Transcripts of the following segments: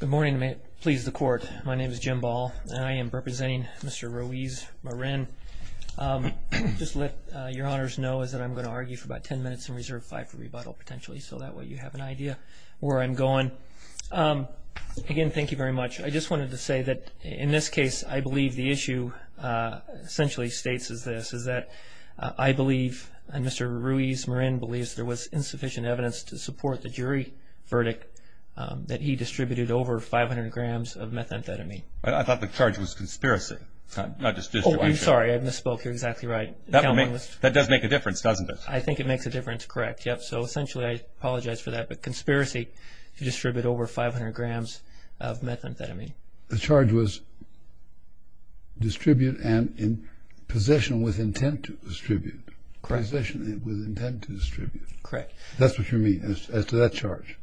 Good morning and may it please the court my name is Jim Ball and I am representing Mr. Ruiz-Marin. Just let your honors know is that I'm going to argue for about 10 minutes and reserve five for rebuttal potentially so that way you have an idea where I'm going. Again thank you very much I just wanted to say that in this case I believe the issue essentially states is this is that I believe and Mr. Ruiz-Marin believes there was insufficient evidence to he distributed over 500 grams of methamphetamine. I thought the charge was conspiracy. I'm sorry I misspoke you're exactly right. That does make a difference doesn't it? I think it makes a difference correct yep so essentially I apologize for that but conspiracy to distribute over 500 grams of methamphetamine. The charge was distribute and in possession with intent to distribute. Correct. That's what you mean as to that charge.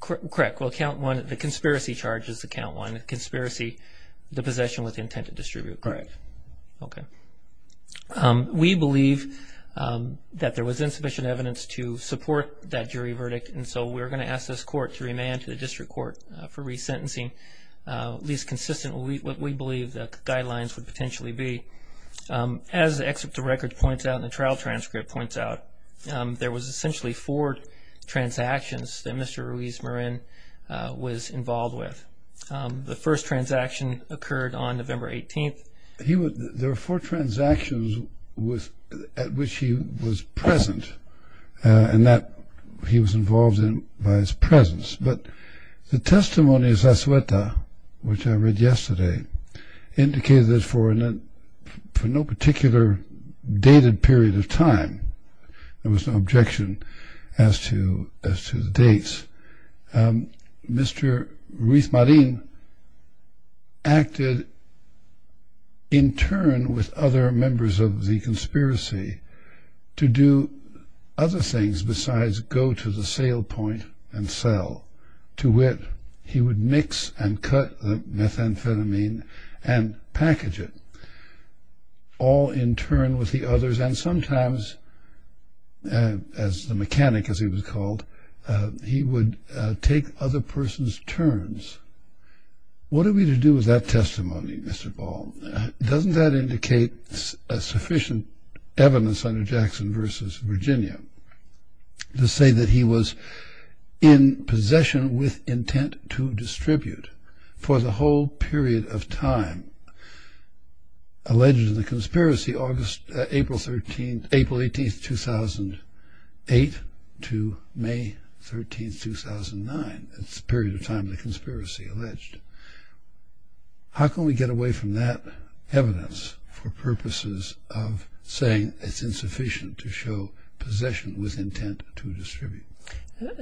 Correct well count one the conspiracy charge is to count one the conspiracy the possession with intent to distribute. Correct. Okay we believe that there was insufficient evidence to support that jury verdict and so we're going to ask this court to remand to the district court for resentencing at least consistently what we believe the guidelines would potentially be. As the excerpt of records points out in the trial transcript points out there was involved with. The first transaction occurred on November 18th. He would there were four transactions with at which he was present and that he was involved in by his presence but the testimony of Zazueta which I read yesterday indicated that for an for no particular dated period of time there was no objection as to the dates. Mr. Ruiz Marin acted in turn with other members of the conspiracy to do other things besides go to the sale point and sell to wit he would mix and cut the methamphetamine and package it all in turn with the called he would take other person's turns. What are we to do with that testimony Mr. Ball? Doesn't that indicate a sufficient evidence under Jackson versus Virginia to say that he was in possession with intent to distribute for the whole period of time alleged in the conspiracy August April 13 April 18th 2008 to May 13 2009. It's a period of time the conspiracy alleged. How can we get away from that evidence for purposes of saying it's insufficient to show possession with intent to distribute?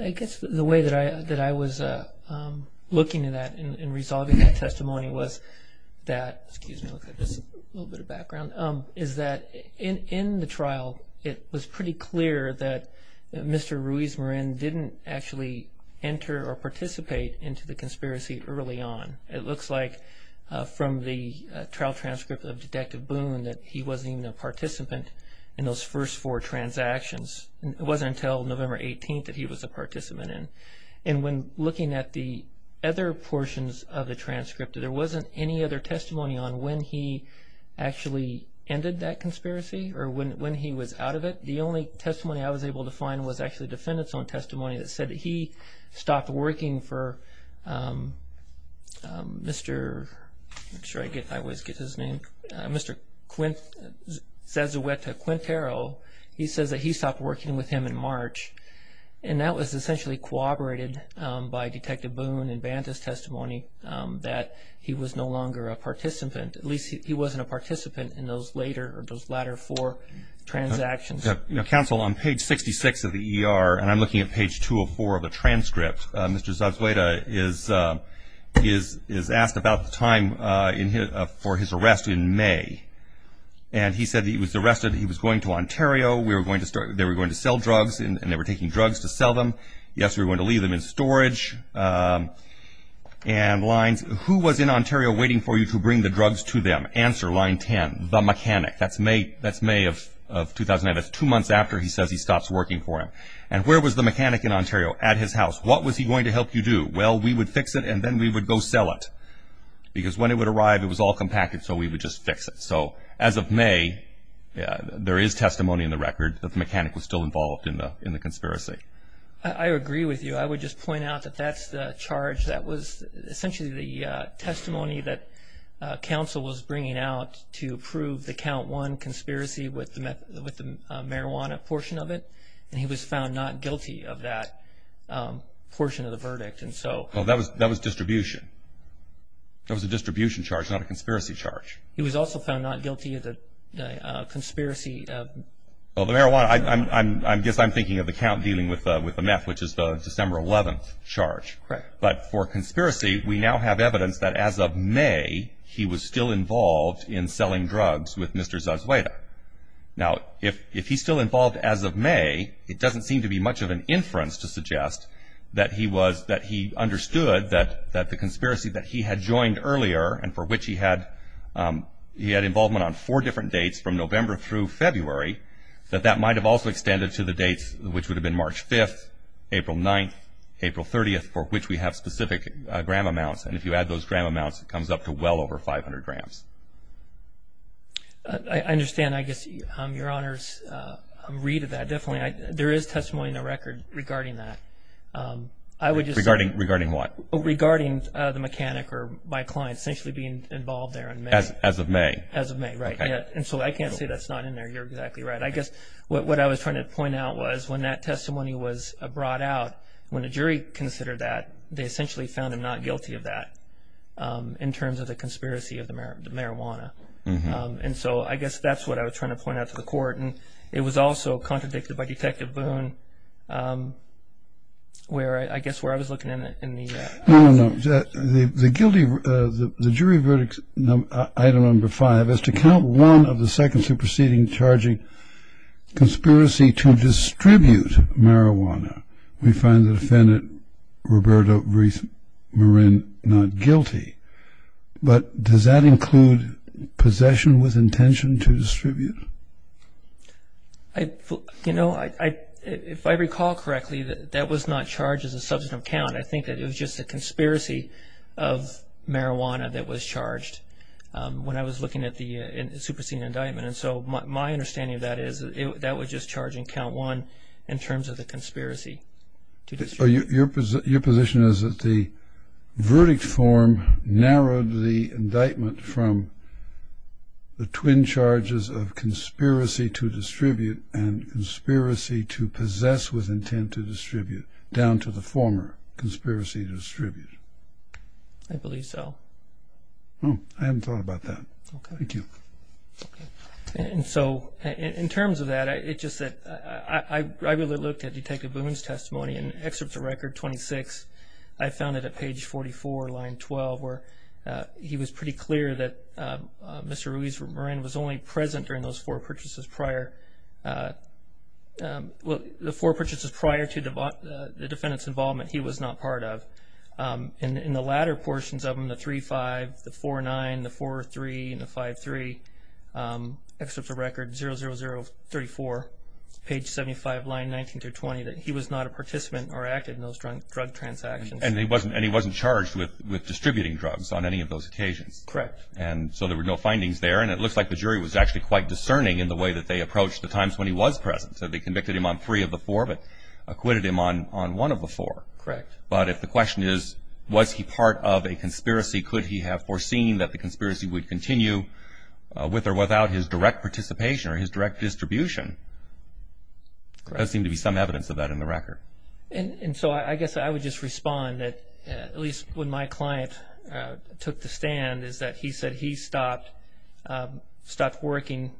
I guess the way that I that I was looking at that in resolving that testimony was that excuse me a little bit of pretty clear that Mr. Ruiz Marin didn't actually enter or participate into the conspiracy early on. It looks like from the trial transcript of detective Boone that he wasn't even a participant in those first four transactions. It wasn't until November 18th that he was a participant in and when looking at the other portions of the transcript there wasn't any other testimony on when he actually ended that conspiracy or when he was out of it. The only testimony I was able to find was actually defendants on testimony that said he stopped working for Mr. I always get his name Mr. Quintero. He says that he stopped working with him in March and that was essentially corroborated by detective Boone and Banta's testimony that he was no longer a participant. At least he wasn't a participant in those latter four transactions. Counsel on page 66 of the ER and I'm looking at page 204 of the transcript, Mr. Zagsueda is asked about the time for his arrest in May and he said he was arrested he was going to Ontario. They were going to sell drugs and they were taking drugs to sell them. Yes we were going to leave them in storage and lines who was in Ontario waiting for you to bring the drugs to them? Answer line 10, the mechanic. That's May of 2009. That's two months after he says he stops working for him. And where was the mechanic in Ontario? At his house. What was he going to help you do? Well we would fix it and then we would go sell it because when it would arrive it was all compacted so we would just fix it. So as of May there is testimony in the record that the mechanic was still involved in the conspiracy. I agree with you. I would just point out that that's the charge that was essentially the testimony that counsel was bringing out to prove the count one conspiracy with the marijuana portion of it and he was found not guilty of that portion of the verdict and so. Well that was that was distribution. That was a distribution charge not a conspiracy charge. He was also found not guilty of the conspiracy. Well the marijuana, I guess I'm thinking of the count dealing with with the meth which is the December 11th charge. Correct. But for conspiracy we now have evidence that as of May he was still involved in selling drugs with Mr. Zazueta. Now if if he's still involved as of May it doesn't seem to be much of an inference to suggest that he was that he understood that that the conspiracy that he had joined earlier and for which he had he had involvement on four different dates from November through February that that might have also extended to the dates which would have been March 5th, April 9th, April 30th for which we have specific gram amounts and if you add those gram amounts it comes up to well over 500 grams. I understand I guess your honor's read of that definitely there is testimony in the record regarding that. I would just. Regarding regarding what? Regarding the mechanic or my client essentially being involved there. As of May. As of May right yeah and so I can't say that's not in there you're exactly right. I guess what I was trying to point out was when that testimony was brought out when a jury considered that they essentially found him not guilty of that in terms of the conspiracy of the marijuana and so I guess that's what I was trying to point out to the court and it was also contradicted by Detective Boone where I guess where I was looking in it. The guilty the jury verdict item number five is to count one of the second superseding charging conspiracy to distribute marijuana. We find the defendant Roberto Ruiz Marin not guilty but does that include possession with intention to distribute? I you know I if I recall correctly that that was not charged as a substantive count I think that it was just a conspiracy of marijuana that was charged when I was looking at the superseding indictment and so my understanding of that is it that was just charging count one in terms of the conspiracy. So your position is that the verdict form narrowed the indictment from the twin charges of conspiracy to distribute and conspiracy to possess with intent to distribute down to the former conspiracy to distribute. I believe so. Oh I hadn't thought about that. Thank you. And so in terms of that it just that I really looked at Detective Boone's testimony and excerpts of record 26 I found it at page 44 line 12 where he was pretty clear that Mr. Ruiz Marin was only present during those four purchases prior well the four purchases prior to the defendant's involvement he was not part of. In the latter portions of the 3-5, the 4-9, the 4-3, and the 5-3, excerpts of record 00034 page 75 line 19 through 20 that he was not a participant or active in those drug transactions. And he wasn't and he wasn't charged with with distributing drugs on any of those occasions. Correct. And so there were no findings there and it looks like the jury was actually quite discerning in the way that they approached the times when he was present so they convicted him on three of the four but acquitted him on on one of the four. Correct. But if the question is was he part of a conspiracy could he have foreseen that the conspiracy would continue with or without his direct participation or his direct distribution? There seemed to be some evidence of that in the record. And so I guess I would just respond that at least when my client took the stand is that he said he stopped stopped working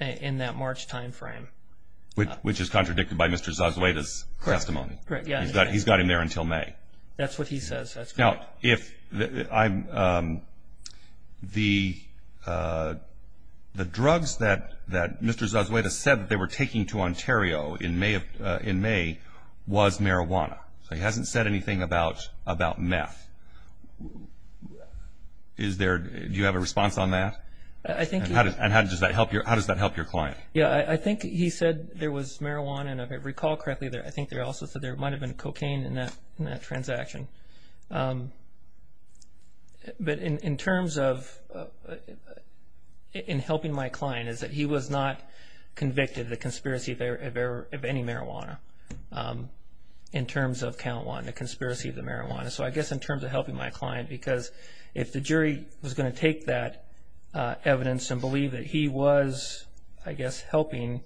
in that March time frame. Which is contradicted by Mr. Zazueda's testimony. Correct. He's got he's got him there until May. That's what he says. Now if I'm the the drugs that that Mr. Zazueda said that they were taking to Ontario in May in May was marijuana. So he hasn't said anything about about meth. Is there do you have a response on that? I think. And how does that help your how does that help your client? Yeah I think he said there was marijuana and if I recall correctly there I think there also said there might have been cocaine in that in that transaction. But in in terms of in helping my client is that he was not convicted of the conspiracy of any marijuana. In terms of count one the conspiracy of the marijuana. So I guess in terms of helping my client because if the jury was going to take that evidence and believe that he was I guess helping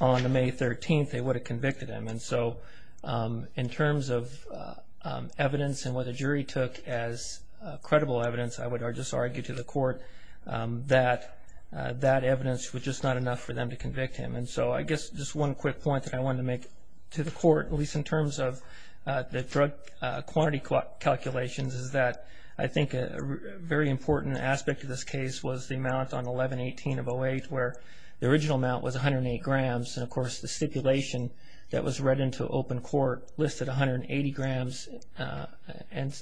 on the May 13th they would have in terms of evidence and what the jury took as credible evidence I would just argue to the court that that evidence was just not enough for them to convict him. And so I guess just one quick point that I wanted to make to the court at least in terms of the drug quantity calculations is that I think a very important aspect of this case was the amount on 1118 of 08 where the original amount was 108 grams. And of course the stipulation that was read into open court listed 180 grams and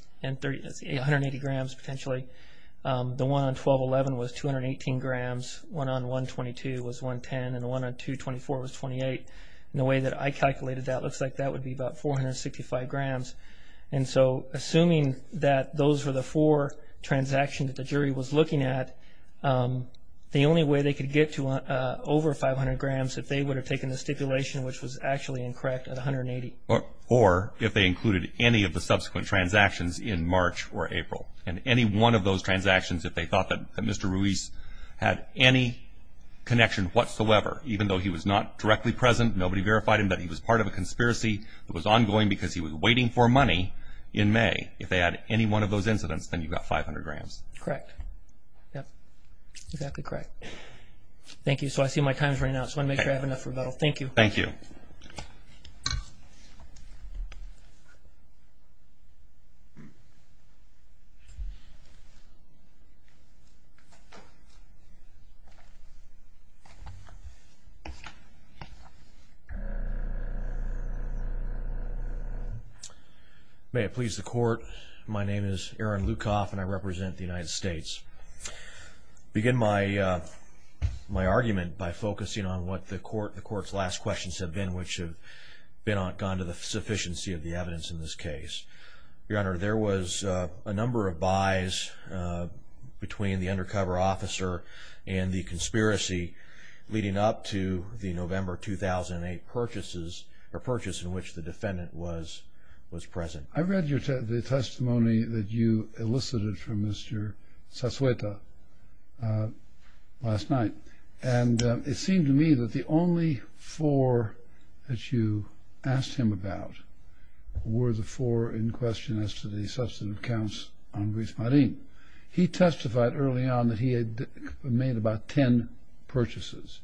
180 grams potentially. The one on 1211 was 218 grams. One on 122 was 110 and the one on 224 was 28. And the way that I calculated that looks like that would be about 465 grams. And so assuming that those were the four transactions that the jury was looking at the only way they could get to over 500 grams if they would have taken the stipulation which was actually incorrect at 180. Or if they included any of the subsequent transactions in March or April. And any one of those transactions if they thought that Mr. Ruiz had any connection whatsoever even though he was not directly present nobody verified him that he was part of a conspiracy that was ongoing because he was waiting for money in May. If they had any one of those incidents then you've got 500 grams. Correct. Yep. Exactly correct. Thank you. So I see my time's up. I just want to make sure I have enough rebuttal. Thank you. Thank you. May it please the court. My name is Aaron Lukoff and I represent the United States. Begin my my argument by focusing on what the court the court's last questions have been which have been on gone to the sufficiency of the evidence in this case. Your Honor there was a number of buys between the undercover officer and the conspiracy leading up to the November 2008 purchases or purchase in which the defendant was was present. I read your testimony that you elicited from Mr. Casueta last night and it seemed to me that the only four that you asked him about were the four in question as to the substantive counts on Ruiz Marin. He testified early on that he had made about ten purchases.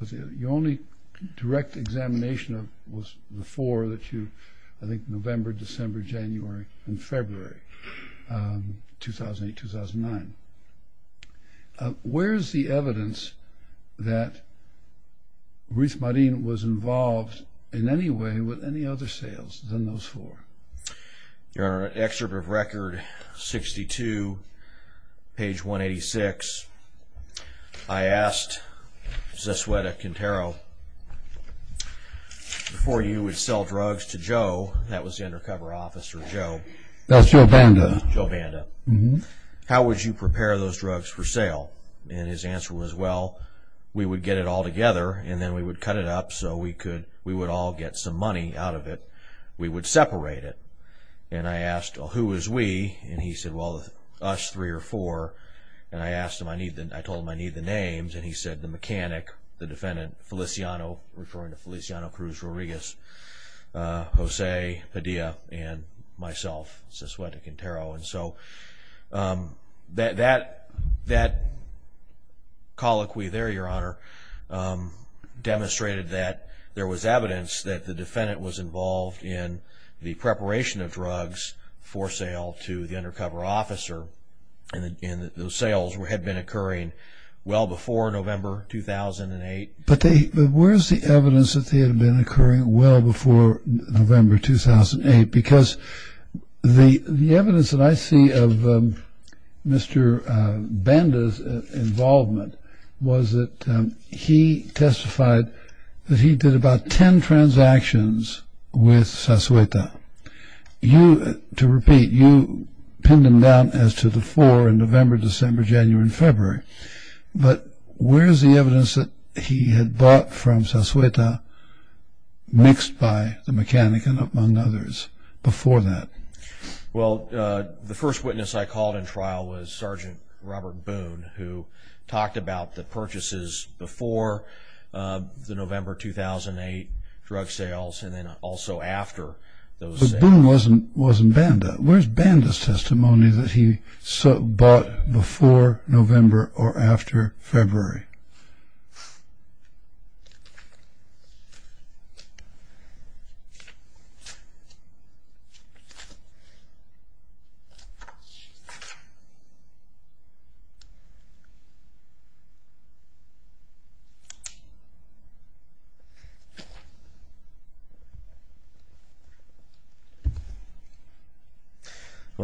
The only direct examination of was the four that you I think November, December, January, and Where's the evidence that Ruiz Marin was involved in any way with any other sales than those four? Your Honor, excerpt of record 62 page 186 I asked Casueta Quintero before you would sell drugs to Joe that was the undercover officer Joe That's Joe Banda. How would you prepare those drugs for sale? And his answer was well we would get it all together and then we would cut it up so we could we would all get some money out of it we would separate it and I asked who is we and he said well us three or four and I asked him I need that I told him I need the names and he said the mechanic the defendant Feliciano referring to Feliciano Cruz Rodriguez, Jose Padilla, and myself Casueta Quintero and so that colloquy there your honor demonstrated that there was evidence that the defendant was involved in the preparation of drugs for sale to the undercover officer and those sales had been occurring well before November 2008. But they where's the evidence that they had been occurring well before November 2008 because the the evidence that I see of Mr. Banda's involvement was that he testified that he did about ten transactions with Casueta. You to repeat you pinned him down as to the four in November, December, January, and where's the evidence that he had bought from Casueta mixed by the mechanic and among others before that? Well the first witness I called in trial was Sergeant Robert Boone who talked about the purchases before the November 2008 drug sales and then also after those. But Boone wasn't wasn't Banda. Where's Banda's testimony before November or after February?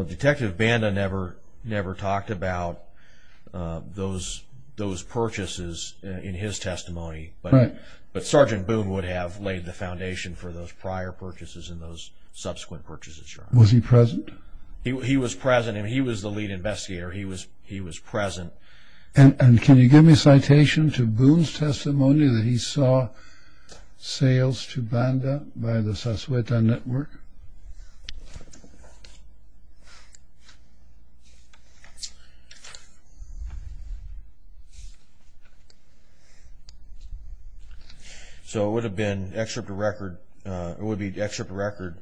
Detective Banda never never talked about those those purchases in his testimony but but Sergeant Boone would have laid the foundation for those prior purchases in those subsequent purchases. Was he present? He was present and he was the lead investigator he was he was present. And can you give me So it would have been excerpt a record it would be the excerpt record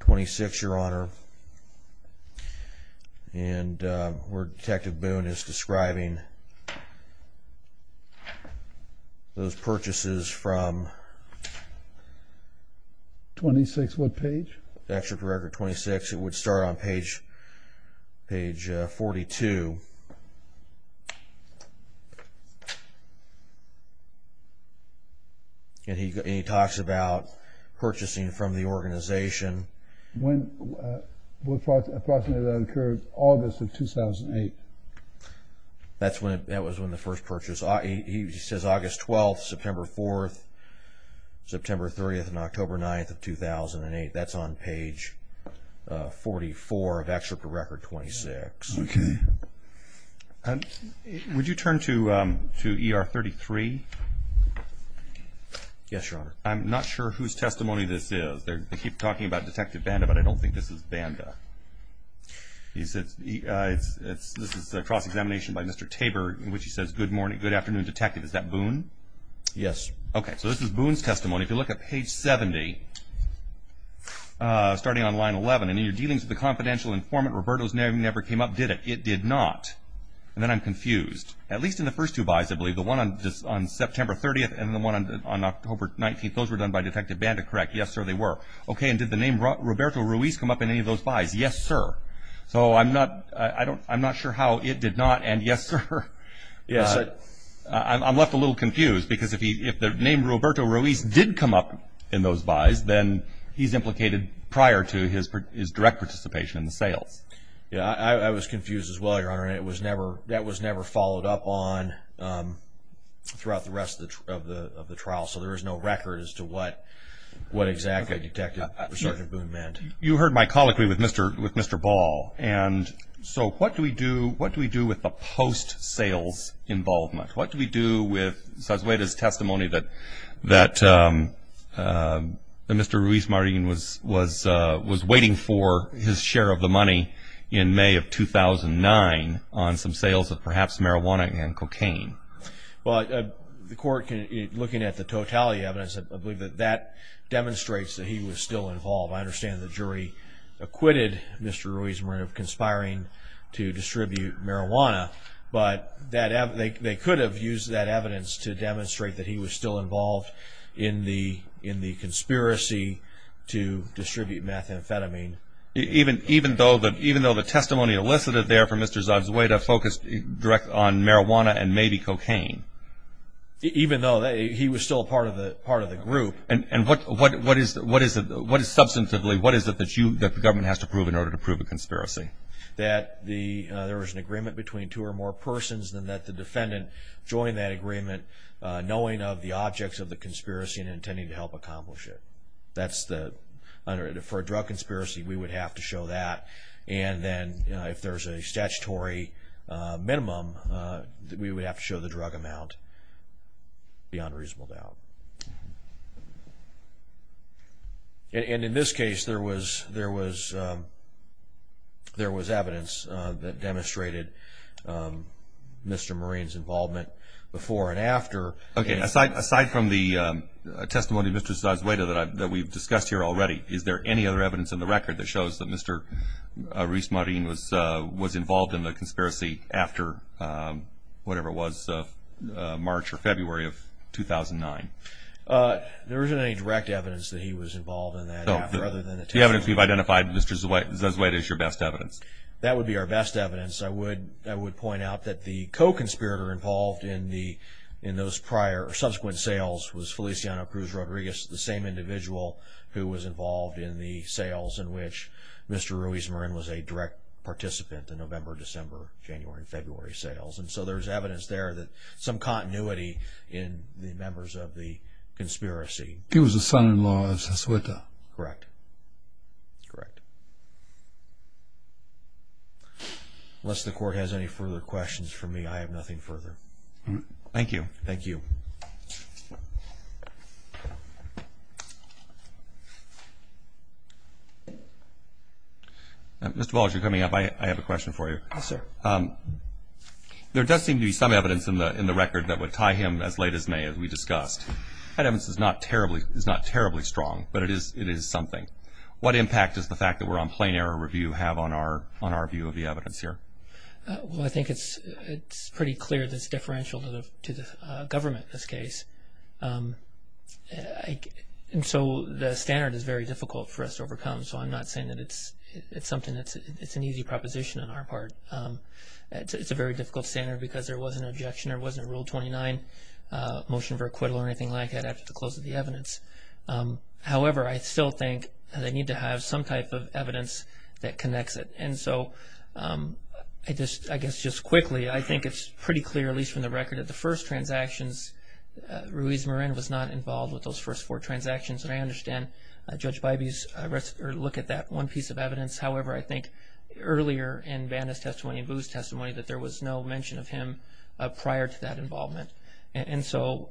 26 your honor and where Detective Boone is describing those purchases from 26 what And he talks about purchasing from the organization. When approximately that occurred August of 2008. That's when that was when the first purchase he says August 12th, September 4th, September 30th, and October 9th of 2008 that's on Yes your honor. I'm not sure whose testimony this is. They keep talking about Detective Banda but I don't think this is Banda. He said it's it's this is a cross-examination by Mr. Tabor in which he says good morning good afternoon detective. Is that Boone? Yes. Okay so this is Boone's testimony. If you look at page 70 starting on line 11 and in your dealings with the confidential informant Roberto's name never came up did it? It did not. And then I'm confused. At least in the first two buys I believe the one on September 30th and the one on October 19th those were done by Detective Banda correct? Yes sir they were. Okay and did the name Roberto Ruiz come up in any of those buys? Yes sir. So I'm not I don't I'm not sure how it did not and yes sir. Yeah I'm left a little confused because if he if the name Roberto Ruiz did come up in those buys then he's implicated prior to his direct participation in the sales. Yeah I was confused as well your honor and it was never that was never followed up on throughout the rest of the of the trial so there is no record as to what what exactly Detective Sergeant Boone meant. You heard my colloquy with Mr. with Mr. Ball and so what do we do what do we do with the post sales involvement? What do we do with Sazueta's testimony that that Mr. Ruiz-Marin was was was waiting for his share of the money in May of 2009 on some sales of perhaps marijuana and cocaine? Well the court can looking at the totality evidence I believe that that demonstrates that he was still involved. I understand the jury acquitted Mr. Ruiz-Marin of conspiring to distribute marijuana but that they could have used that evidence to demonstrate that he was still involved in the in the even even though that even though the testimony elicited there for Mr. Sazueta focused direct on marijuana and maybe cocaine? Even though they he was still part of the part of the group. And and what what what is what is it what is substantively what is it that you that the government has to prove in order to prove a conspiracy? That the there was an agreement between two or more persons than that the defendant joined that agreement knowing of the objects of the conspiracy and intending to help accomplish it. That's the under for a drug conspiracy we would have to show that and then you know if there's a statutory minimum that we would have to show the drug amount beyond reasonable doubt. And in this case there was there was there was evidence that demonstrated Mr. Marin's involvement before and after. Okay aside aside from the testimony of Mr. Sazueta that I've that we've discussed here already is there any other evidence in the record that shows that Mr. Rees-Marin was was involved in the conspiracy after whatever was March or February of 2009? There isn't any direct evidence that he was involved in that. The evidence we've identified Mr. Sazueta is your best evidence. That would be our best evidence I would I would point out that the co-conspirator involved in the in those prior subsequent sales was Feliciano Cruz Rodriguez the same individual who was involved in the sales in which Mr. Rees-Marin was a direct participant in November, December, January, and February sales. And so there's evidence there that some continuity in the members of the conspiracy. He was the son-in-law of Sazueta. Correct. Correct. Unless the court has any further questions for me I have nothing further. Thank you. Thank you. Mr. Walsh you're coming up I have a question for you. Yes sir. There does seem to be some evidence in the in the record that would tie him as late as May as we discussed. That evidence is not terribly is not terribly strong but it is it is something. What impact is the fact that we're on plain error review have on our on our view of the evidence here? Well I think it's it's pretty clear this differential to the government in this case. And so the standard is very difficult for us to overcome so I'm not saying that it's it's something that's it's an easy proposition on our part. It's a very difficult standard because there was an objection there wasn't a rule 29 motion for acquittal or anything like that after the close of the evidence. However I still think they need to have some type of evidence that quickly. I think it's pretty clear at least from the record that the first transactions Ruiz Marin was not involved with those first four transactions. And I understand Judge Bybee's look at that one piece of evidence. However I think earlier in Vanna's testimony and Boo's testimony that there was no mention of him prior to that involvement. And so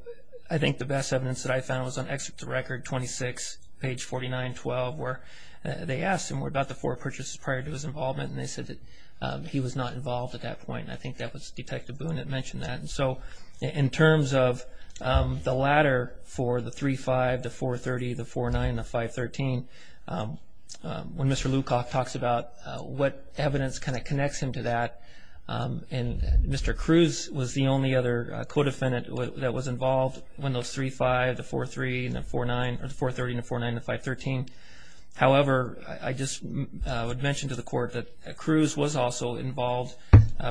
I think the best evidence that I found was on excerpt the record 26 page 49 12 where they asked him about the four purchases prior to his involvement and they said that he was not involved at that point. I think that was Detective Boone that mentioned that. And so in terms of the latter for the 3-5, the 4-30, the 4-9, the 5-13, when Mr. Lukoff talks about what evidence kind of connects him to that and Mr. Cruz was the only other co-defendant that was involved when those 3-5, the 4-3, and the 4-9, or the 4-30, and the 4-9, and the 5-13. However I just would mention to the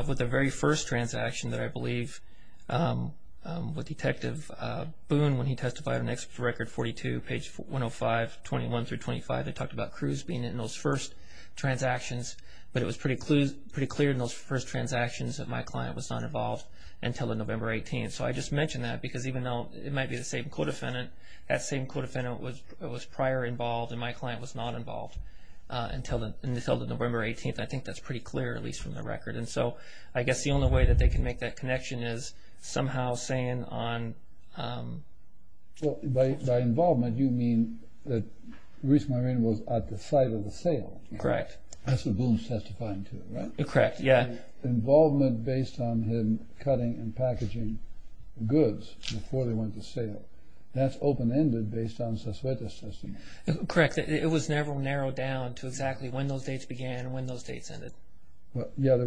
with the very first transaction that I believe with Detective Boone when he testified on record 42 page 105 21 through 25 they talked about Cruz being in those first transactions but it was pretty clear in those first transactions that my client was not involved until the November 18th. So I just mentioned that because even though it might be the same co-defendant, that same co-defendant was prior involved and my client was not involved until the November 18th. I think that's pretty clear at least from the I guess the only way that they can make that connection is somehow saying on Well by involvement you mean that Ruiz-Marin was at the site of the sale. Correct. That's what Boone's testifying to, right? Correct, yeah. Involvement based on him cutting and packaging goods before they went to sale. That's open-ended based on Sosuete's testimony. Correct, it was never narrowed down to exactly when those dates began and when those dates ended. Well yeah there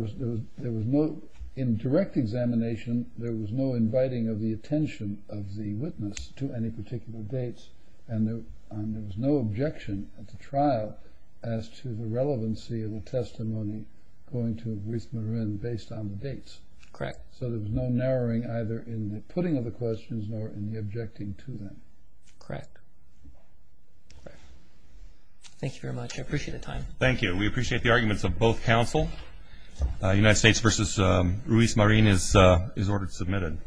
was no in direct examination there was no inviting of the attention of the witness to any particular dates and there was no objection at the trial as to the relevancy of the testimony going to Ruiz-Marin based on the dates. Correct. So there was no narrowing either in the putting of the questions nor in the We appreciate the arguments of both counsel. United States v. Ruiz-Marin is is ordered submitted.